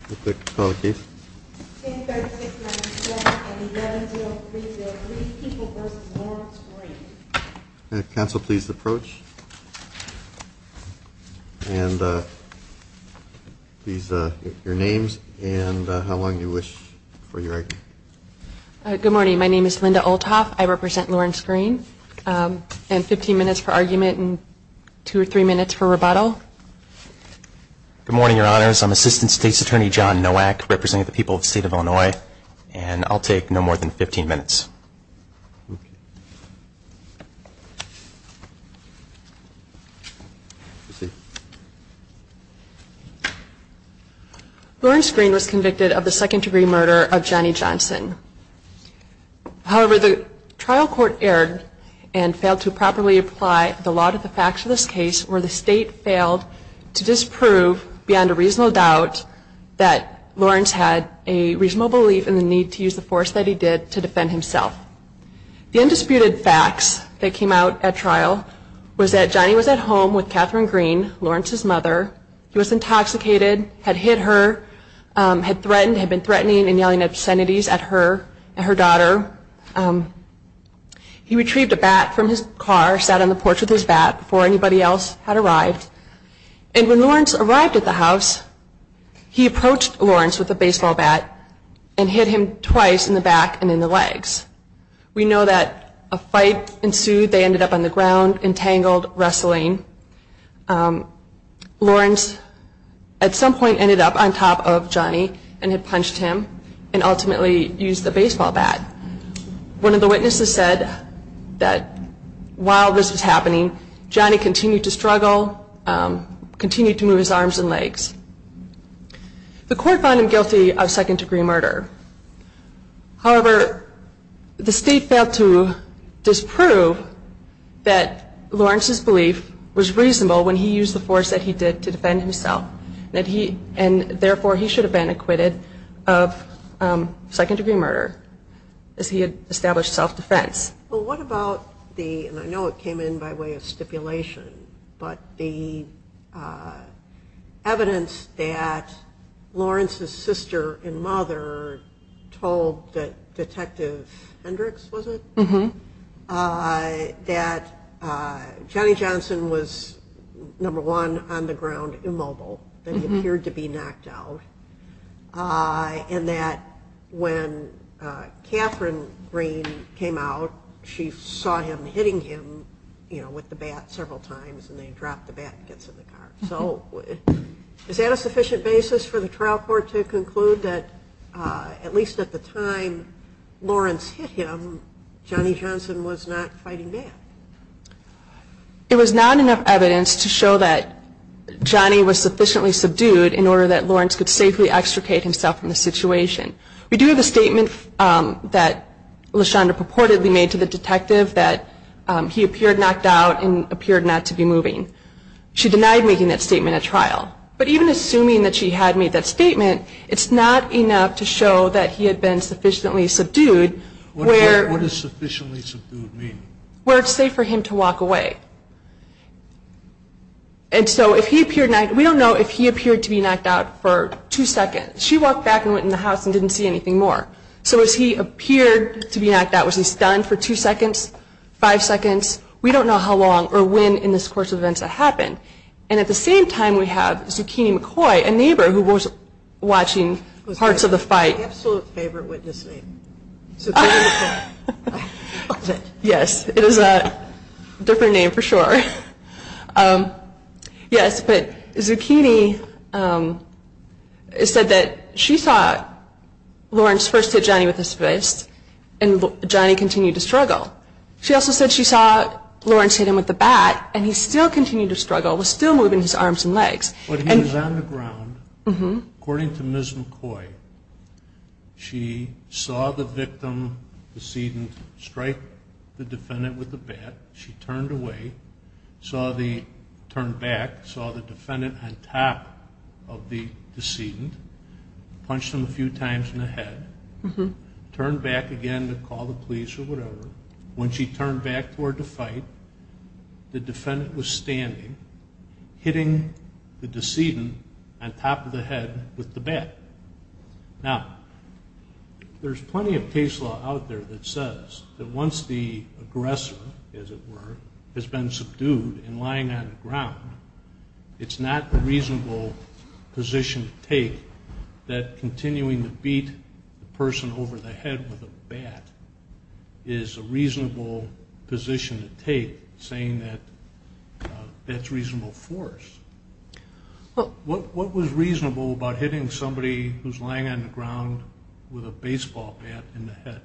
and please your names and how long you wish for your name. Good morning. My name is Linda. I represent Lawrence Green and 15 minutes for argument and two or three minutes for rebuttal. Good morning, your honors. I'm Assistant State's Attorney John Nowak representing the people of the state of Illinois and I'll take no more than 15 minutes. Lawrence Green was convicted of the second degree murder of Johnny Johnson. However, the trial court erred and failed to properly apply the law to the facts of this case where the state failed to disprove beyond a reasonable doubt that Lawrence had a reasonable belief in the need to use the force that he did to defend himself. The undisputed facts that came out at trial was that Johnny was at home with Catherine Green, Lawrence's mother. He was intoxicated, had hit her, had threatened, had been threatening and yelling obscenities at her and her daughter. He retrieved a bat from his car, sat on the porch with his bat before anybody else had arrived. And when Lawrence arrived at the house, he approached Lawrence with a baseball bat and hit him twice in the back and in the legs. We know that a fight ensued. They ended up on the ground, entangled, wrestling. Lawrence at some point ended up on top of Johnny and had punched him and ultimately used the baseball bat. One of the witnesses said that while this was happening, Johnny continued to struggle, continued to move his arms and legs. The court found him guilty of second-degree murder. However, the state failed to disprove that Lawrence's belief was reasonable when he used the force that he did to defend himself and therefore he should have been acquitted of second-degree murder as he had established self-defense. Well, what about the, and I know it came in by way of stipulation, but the evidence that Lawrence's sister and mother told Detective Hendricks, was it? That Johnny Johnson was, number one, on the ground, immobile, that he appeared to be knocked out. And that when Catherine Green came out, she saw him hitting him with the bat several times and they dropped the bat and it gets in the car. So is that a sufficient basis for the trial court to conclude that at least at the time Lawrence hit him, Johnny Johnson was not fighting back? It was not enough evidence to show that Johnny was sufficiently subdued in order that Lawrence could safely extricate himself from the situation. We do have a statement that LaShonda purportedly made to the detective that he appeared knocked out and appeared not to be moving. She denied making that statement at trial. But even assuming that she had made that statement, it's not enough to show that he had been sufficiently subdued. What does sufficiently subdued mean? Where it's safe for him to walk away. And so if he appeared, we don't know if he appeared to be knocked out for two seconds. She walked back and went in the house and didn't see anything more. So as he appeared to be knocked out, was he stunned for two seconds? Five seconds? We don't know how long or when in this course of events that happened. And at the same time we have Zucchini McCoy, a neighbor who was watching parts of the fight. That's my absolute favorite witness name. Yes, it is a different name for sure. Yes, but Zucchini said that she saw Lawrence first hit Johnny with his fist and Johnny continued to struggle. She also said she saw Lawrence hit him with the bat and he still continued to struggle, was still moving his arms and legs. But he was on the ground. According to Ms. McCoy, she saw the victim, the decedent, strike the defendant with the bat. She turned away, turned back, saw the defendant on top of the decedent, punched him a few times in the head. Turned back again to call the police or whatever. When she turned back toward the fight, the defendant was standing, hitting the decedent on top of the head with the bat. Now, there's plenty of case law out there that says that once the aggressor, as it were, has been subdued and lying on the ground, it's not a reasonable position to take that continuing to beat the person over the head with a bat is a reasonable position to take, saying that that's reasonable force. What was reasonable about hitting somebody who's lying on the ground with a baseball bat in the head?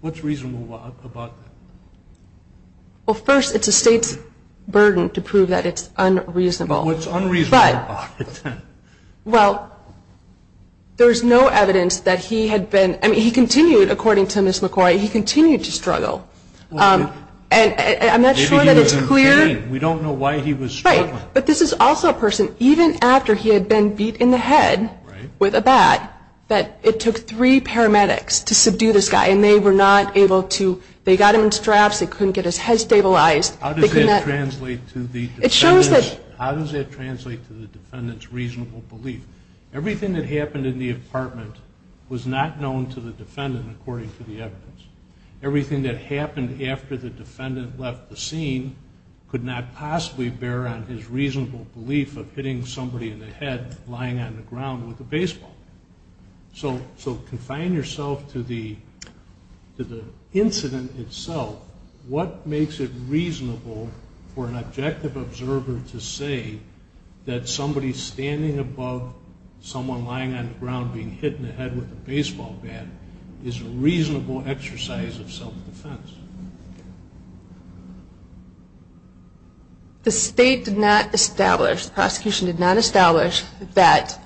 What's reasonable about that? Well, first, it's a state's burden to prove that it's unreasonable. What's unreasonable about it then? Well, there's no evidence that he had been, I mean, he continued, according to Ms. McCoy, he continued to struggle. And I'm not sure that it's clear. Maybe he was in pain. We don't know why he was struggling. Right. But this is also a person, even after he had been beat in the head with a bat, that it took three paramedics to subdue this guy. And they were not able to, they got him in straps, they couldn't get his head stabilized. How does that translate to the defendant's reasonable belief? Everything that happened in the apartment was not known to the defendant, according to the evidence. Everything that happened after the defendant left the scene could not possibly bear on his reasonable belief of hitting somebody in the head lying on the ground with a baseball. So confine yourself to the incident itself. What makes it reasonable for an objective observer to say that somebody standing above someone lying on the ground being hit in the head with a baseball bat is a reasonable exercise of self-defense? The state did not establish, the prosecution did not establish that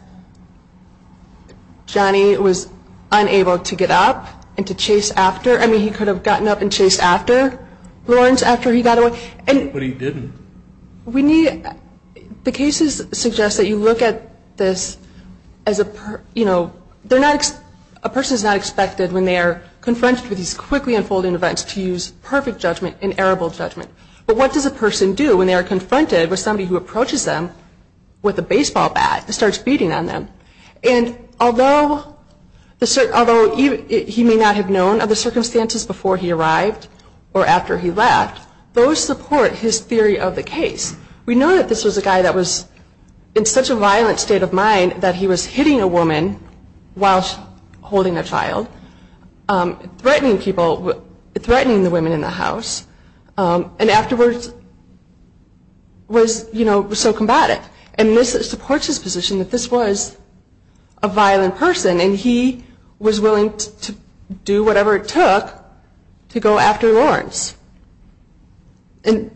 Johnny was unable to get up and to chase after, I mean he could have gotten up and chased after Lawrence after he got away. But he didn't. The cases suggest that you look at this as a, you know, a person is not expected when they are confronted with these quickly unfolding events to use perfect judgment and errorable judgment. But what does a person do when they are confronted with somebody who approaches them with a baseball bat and starts beating on them? And although he may not have known of the circumstances before he arrived or after he left, those support his theory of the case. We know that this was a guy that was in such a violent state of mind that he was hitting a woman while holding a child, threatening people, threatening the women in the house. And afterwards was, you know, so combative. And this supports his position that this was a violent person and he was willing to do whatever it took to go after Lawrence. And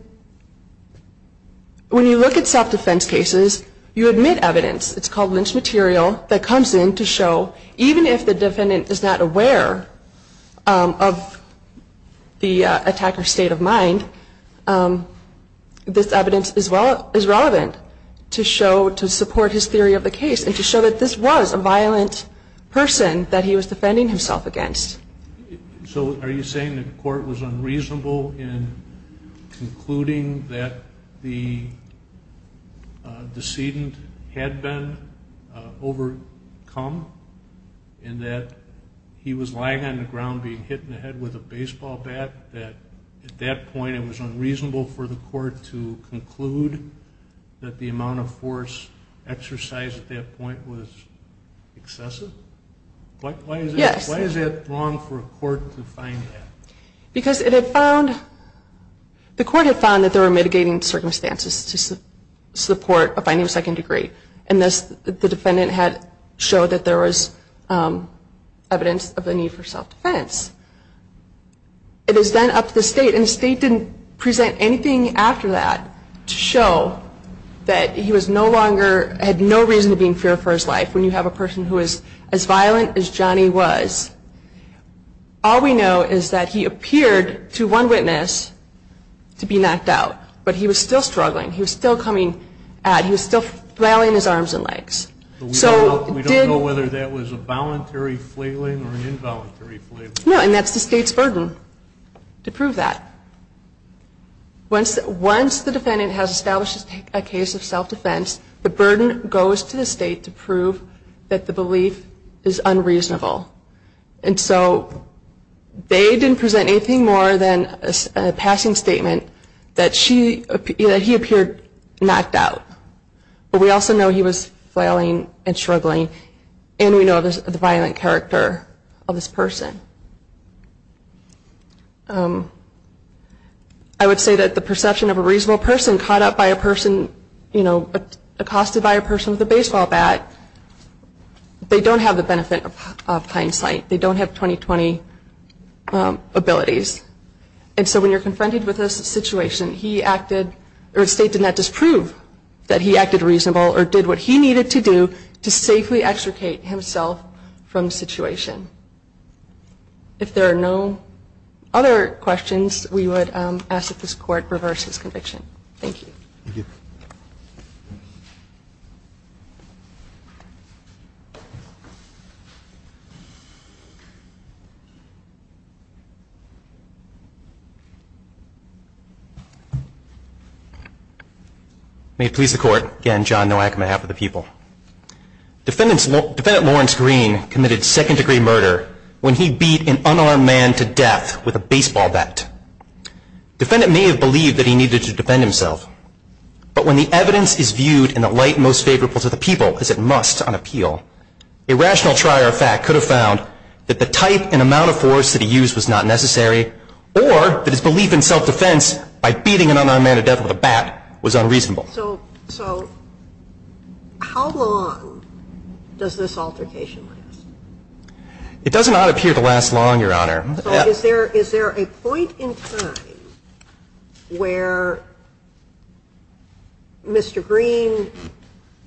when you look at self-defense cases, you admit evidence. It's called lynch material that comes in to show even if the defendant is not aware of the attacker's state of mind, this evidence is relevant to show, to support his theory of the case and to show that this was a violent person that he was defending himself against. So are you saying the court was unreasonable in concluding that the decedent had been overcome and that he was lying on the ground being hit in the head with a baseball bat? That at that point it was unreasonable for the court to conclude that the amount of force exercised at that point was excessive? Yes. Why is it wrong for a court to find that? Because it had found, the court had found that there were mitigating circumstances to support a finding of second degree. And thus the defendant had showed that there was evidence of the need for self-defense. It is then up to the state, and the state didn't present anything after that to show that he was no longer, had no reason to be in fear for his life when you have a person who is as violent as Johnny was. All we know is that he appeared to one witness to be knocked out, but he was still struggling. He was still coming at, he was still flailing his arms and legs. We don't know whether that was a voluntary flailing or an involuntary flailing. No, and that's the state's burden to prove that. Once the defendant has established a case of self-defense, the burden goes to the state to prove that the belief is unreasonable. And so they didn't present anything more than a passing statement that he appeared knocked out. But we also know he was flailing and struggling, and we know of the violent character of this person. I would say that the perception of a reasonable person caught up by a person, you know, accosted by a person with a baseball bat, they don't have the benefit of hindsight. They don't have 20-20 abilities. And so when you're confronted with this situation, the state did not disprove that he acted reasonable or did what he needed to do to safely extricate himself from the situation. If there are no other questions, we would ask that this Court reverse his conviction. Thank you. Thank you. May it please the Court. Again, John Nowak on behalf of the people. Defendant Lawrence Green committed second-degree murder when he beat an unarmed man to death with a baseball bat. Defendant may have believed that he needed to defend himself, but when the evidence is viewed in the light most favorable to the people as it must on appeal, a rational trier of fact could have found that the type and amount of force that he used was not necessary or that his belief in self-defense by beating an unarmed man to death with a bat was unreasonable. So how long does this altercation last? It does not appear to last long, Your Honor. So is there a point in time where Mr. Green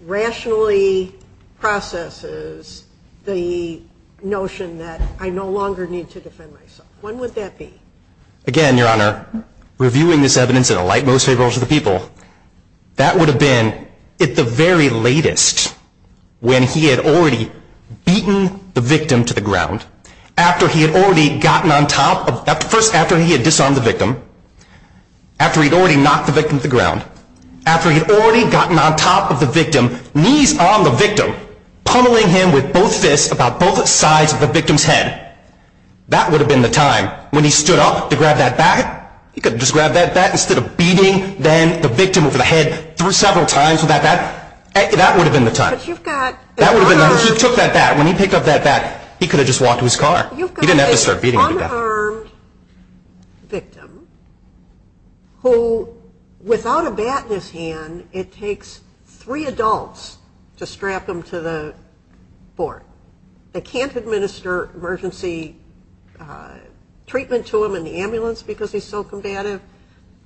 rationally processes the notion that I no longer need to defend myself? When would that be? Again, Your Honor, reviewing this evidence in the light most favorable to the people, that would have been at the very latest when he had already beaten the victim to the ground. After he had already gotten on top of, first after he had disarmed the victim, after he had already knocked the victim to the ground, after he had already gotten on top of the victim, knees on the victim, pummeling him with both fists about both sides of the victim's head. That would have been the time when he stood up to grab that bat. He could have just grabbed that bat instead of beating then the victim over the head several times with that bat. That would have been the time. That would have been the time. He took that bat. When he picked up that bat, he could have just walked to his car. He didn't have to start beating him to death. You've got this unarmed victim who, without a bat in his hand, it takes three adults to strap him to the board. They can't administer emergency treatment to him in the ambulance because he's so combative,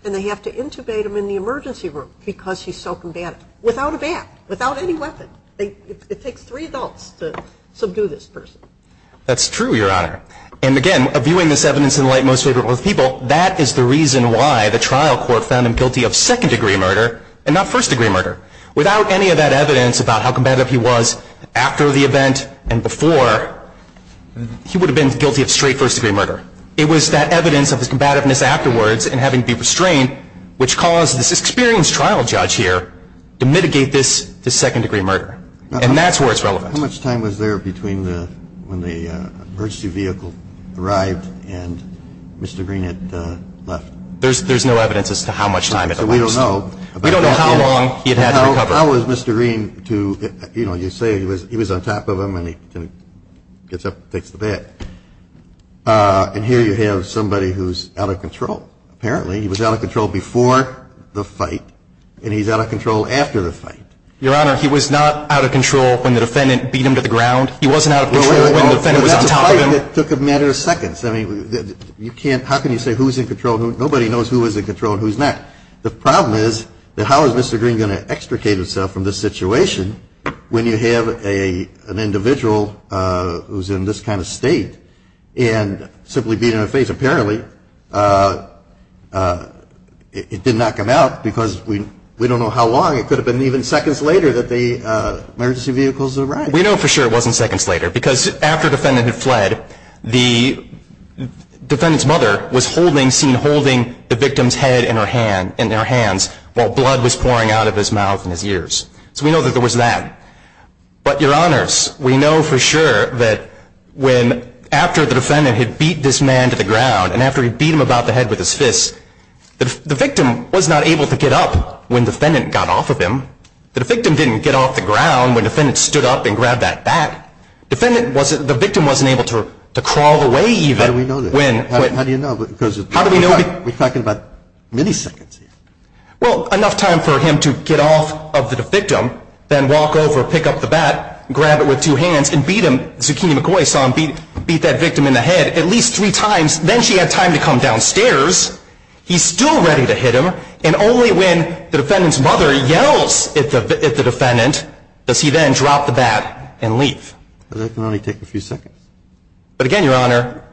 and they have to intubate him in the emergency room because he's so combative. Without a bat. Without any weapon. It takes three adults to subdue this person. That's true, Your Honor. And, again, viewing this evidence in the light most favorable to the people, that is the reason why the trial court found him guilty of second-degree murder and not first-degree murder. Without any of that evidence about how combative he was after the event and before, he would have been guilty of straight first-degree murder. It was that evidence of his combativeness afterwards and having to be restrained which caused this experienced trial judge here to mitigate this second-degree murder. And that's where it's relevant. How much time was there between when the emergency vehicle arrived and Mr. Green had left? There's no evidence as to how much time it elapsed. We don't know. We don't know how long he had had to recover. How was Mr. Green to, you know, you say he was on top of him and he gets up and takes the bat. And here you have somebody who's out of control, apparently. He was out of control before the fight, and he's out of control after the fight. Your Honor, he was not out of control when the defendant beat him to the ground. He wasn't out of control when the defendant was on top of him. Well, that's a fight that took a matter of seconds. I mean, you can't – how can you say who's in control? Nobody knows who is in control and who's not. The problem is that how is Mr. Green going to extricate himself from this situation when you have an individual who's in this kind of state and simply beat him to the face? Apparently, it did not come out because we don't know how long. It could have been even seconds later that the emergency vehicles arrived. We know for sure it wasn't seconds later because after the defendant had fled, the defendant's mother was seen holding the victim's head in her hands while blood was pouring out of his mouth and his ears. So we know that there was that. But, Your Honors, we know for sure that after the defendant had beat this man to the ground and after he beat him about the head with his fists, the victim was not able to get up when the defendant got off of him. The victim didn't get off the ground when the defendant stood up and grabbed that bat. The victim wasn't able to crawl away even. How do we know that? How do we know? We're talking about milliseconds here. Well, enough time for him to get off of the victim, then walk over, pick up the bat, grab it with two hands and beat him. Zucchini McCoy saw him beat that victim in the head at least three times. Then she had time to come downstairs. He's still ready to hit him, and only when the defendant's mother yells at the defendant does he then drop the bat and leave. That can only take a few seconds. But again, Your Honor,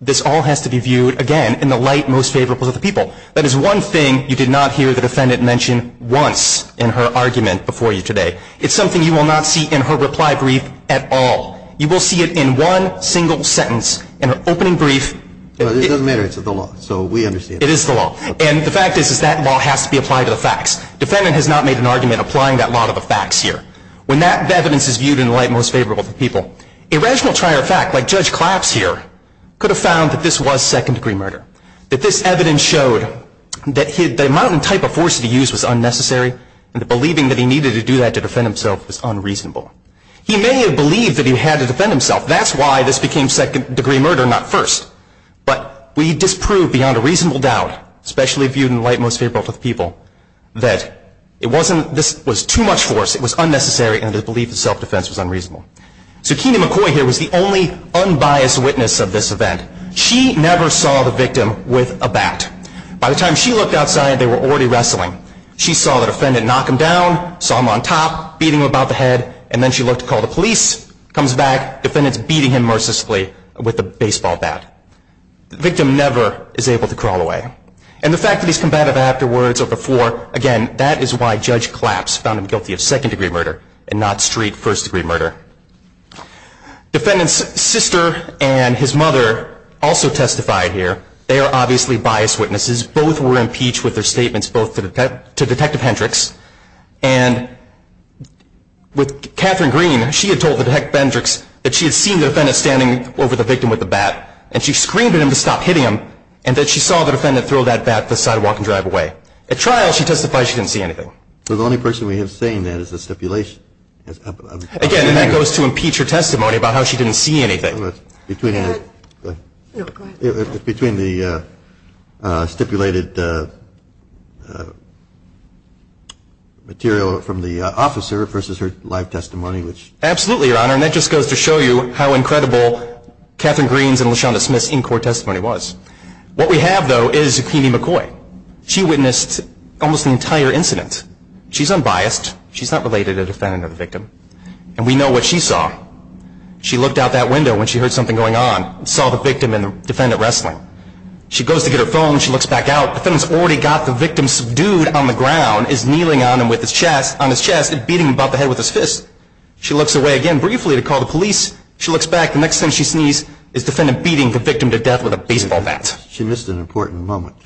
this all has to be viewed, again, in the light most favorable to the people. That is one thing you did not hear the defendant mention once in her argument before you today. It's something you will not see in her reply brief at all. You will see it in one single sentence in her opening brief. It doesn't matter. It's the law. So we understand. It is the law. And the fact is that law has to be applied to the facts. The defendant has not made an argument applying that law to the facts here. When that evidence is viewed in the light most favorable to the people, a rational trier of fact like Judge Claps here could have found that this was second-degree murder, that this evidence showed that the amount and type of force that he used was unnecessary, and that believing that he needed to do that to defend himself was unreasonable. He may have believed that he had to defend himself. That's why this became second-degree murder, not first. But we disprove beyond a reasonable doubt, especially viewed in the light most favorable to the people, that this was too much force, it was unnecessary, and the belief in self-defense was unreasonable. So Keena McCoy here was the only unbiased witness of this event. She never saw the victim with a bat. By the time she looked outside, they were already wrestling. She saw the defendant knock him down, saw him on top, beating him about the head, and then she looked to call the police, comes back, defendant's beating him mercilessly with a baseball bat. The victim never is able to crawl away. And the fact that he's combative afterwards or before, again, that is why Judge Claps found him guilty of second-degree murder and not street first-degree murder. Defendant's sister and his mother also testified here. They are obviously biased witnesses. Both were impeached with their statements both to Detective Hendricks, and with Katherine Green, she had told Detective Hendricks that she had seen the defendant standing over the victim with the bat, and she screamed at him to stop hitting him, and that she saw the defendant throw that bat to the sidewalk and drive away. At trial, she testified she didn't see anything. So the only person we have saying that is the stipulation. Again, and that goes to impeach her testimony about how she didn't see anything. Between the stipulated material from the officer versus her live testimony. Absolutely, Your Honor. And that just goes to show you how incredible Katherine Green's and LaShonda Smith's in-court testimony was. What we have, though, is Zucchini McCoy. She witnessed almost the entire incident. She's unbiased. She's not related to the defendant or the victim. And we know what she saw. She looked out that window when she heard something going on and saw the victim and the defendant wrestling. She goes to get her phone. She looks back out. The defendant's already got the victim subdued on the ground, is kneeling on him with his chest, and beating him about the head with his fist. She looks away again briefly to call the police. She looks back. The next thing she sees is the defendant beating the victim to death with a baseball bat. She missed an important moment.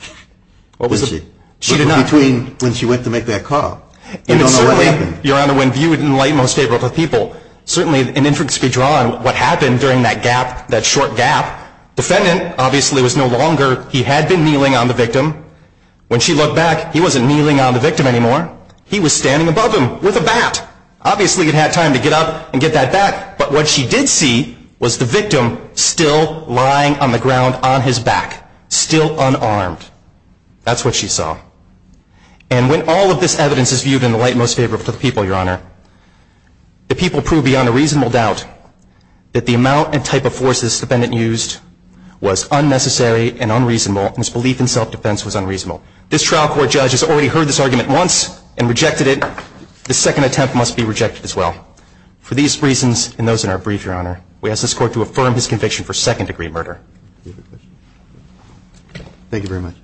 What was it? She did not. Between when she went to make that call. And certainly, Your Honor, when viewed in the light most favorable to people, certainly an inference could be drawn what happened during that gap, that short gap. Defendant, obviously, was no longer. He had been kneeling on the victim. When she looked back, he wasn't kneeling on the victim anymore. He was standing above him with a bat. Obviously, he had time to get up and get that bat. But what she did see was the victim still lying on the ground on his back, still unarmed. That's what she saw. And when all of this evidence is viewed in the light most favorable to the people, Your Honor, the people prove beyond a reasonable doubt that the amount and type of force this defendant used was unnecessary and unreasonable, and his belief in self-defense was unreasonable. This trial court judge has already heard this argument once and rejected it. The second attempt must be rejected as well. For these reasons and those in our brief, Your Honor, we ask this Court to affirm his conviction for second-degree murder. Thank you very much.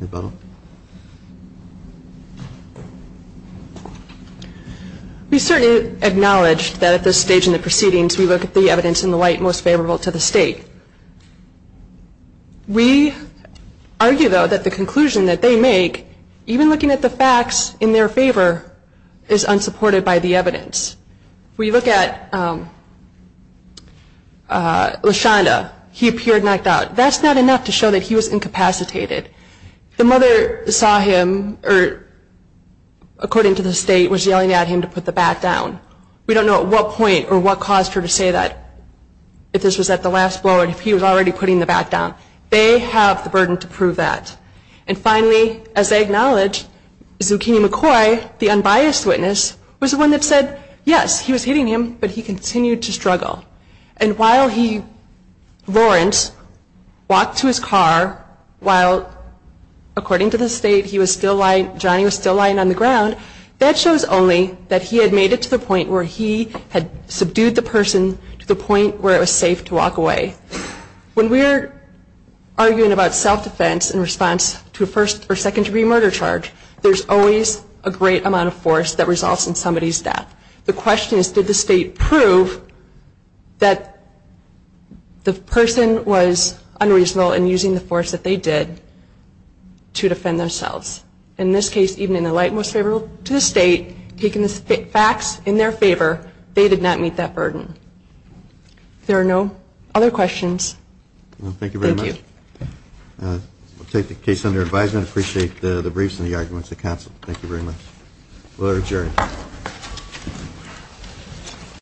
Ms. Butler. We certainly acknowledge that at this stage in the proceedings, we look at the evidence in the light most favorable to the State. We argue, though, that the conclusion that they make, even looking at the facts in their favor, is unsupported by the evidence. We look at Lashonda. He appeared knocked out. That's not enough to show that he was incapacitated. The mother saw him or, according to the State, was yelling at him to put the bat down. We don't know at what point or what caused her to say that, if this was at the last blow or if he was already putting the bat down. They have the burden to prove that. And finally, as they acknowledge, Zucchini McCoy, the unbiased witness, was the one that said, yes, he was hitting him, but he continued to struggle. And while he, Lawrence, walked to his car, while, according to the State, he was still lying, Johnny was still lying on the ground, that shows only that he had made it to the point where he had subdued the person to the point where it was safe to walk away. When we're arguing about self-defense in response to a first- or second-degree murder charge, there's always a great amount of force that results in somebody's death. The question is, did the State prove that the person was unreasonable in using the force that they did to defend themselves? In this case, even in the light most favorable to the State, taking the facts in their favor, they did not meet that burden. If there are no other questions, thank you. Thank you very much. We'll take the case under advisement. I appreciate the briefs and the arguments at Council. Thank you very much. We'll adjourn.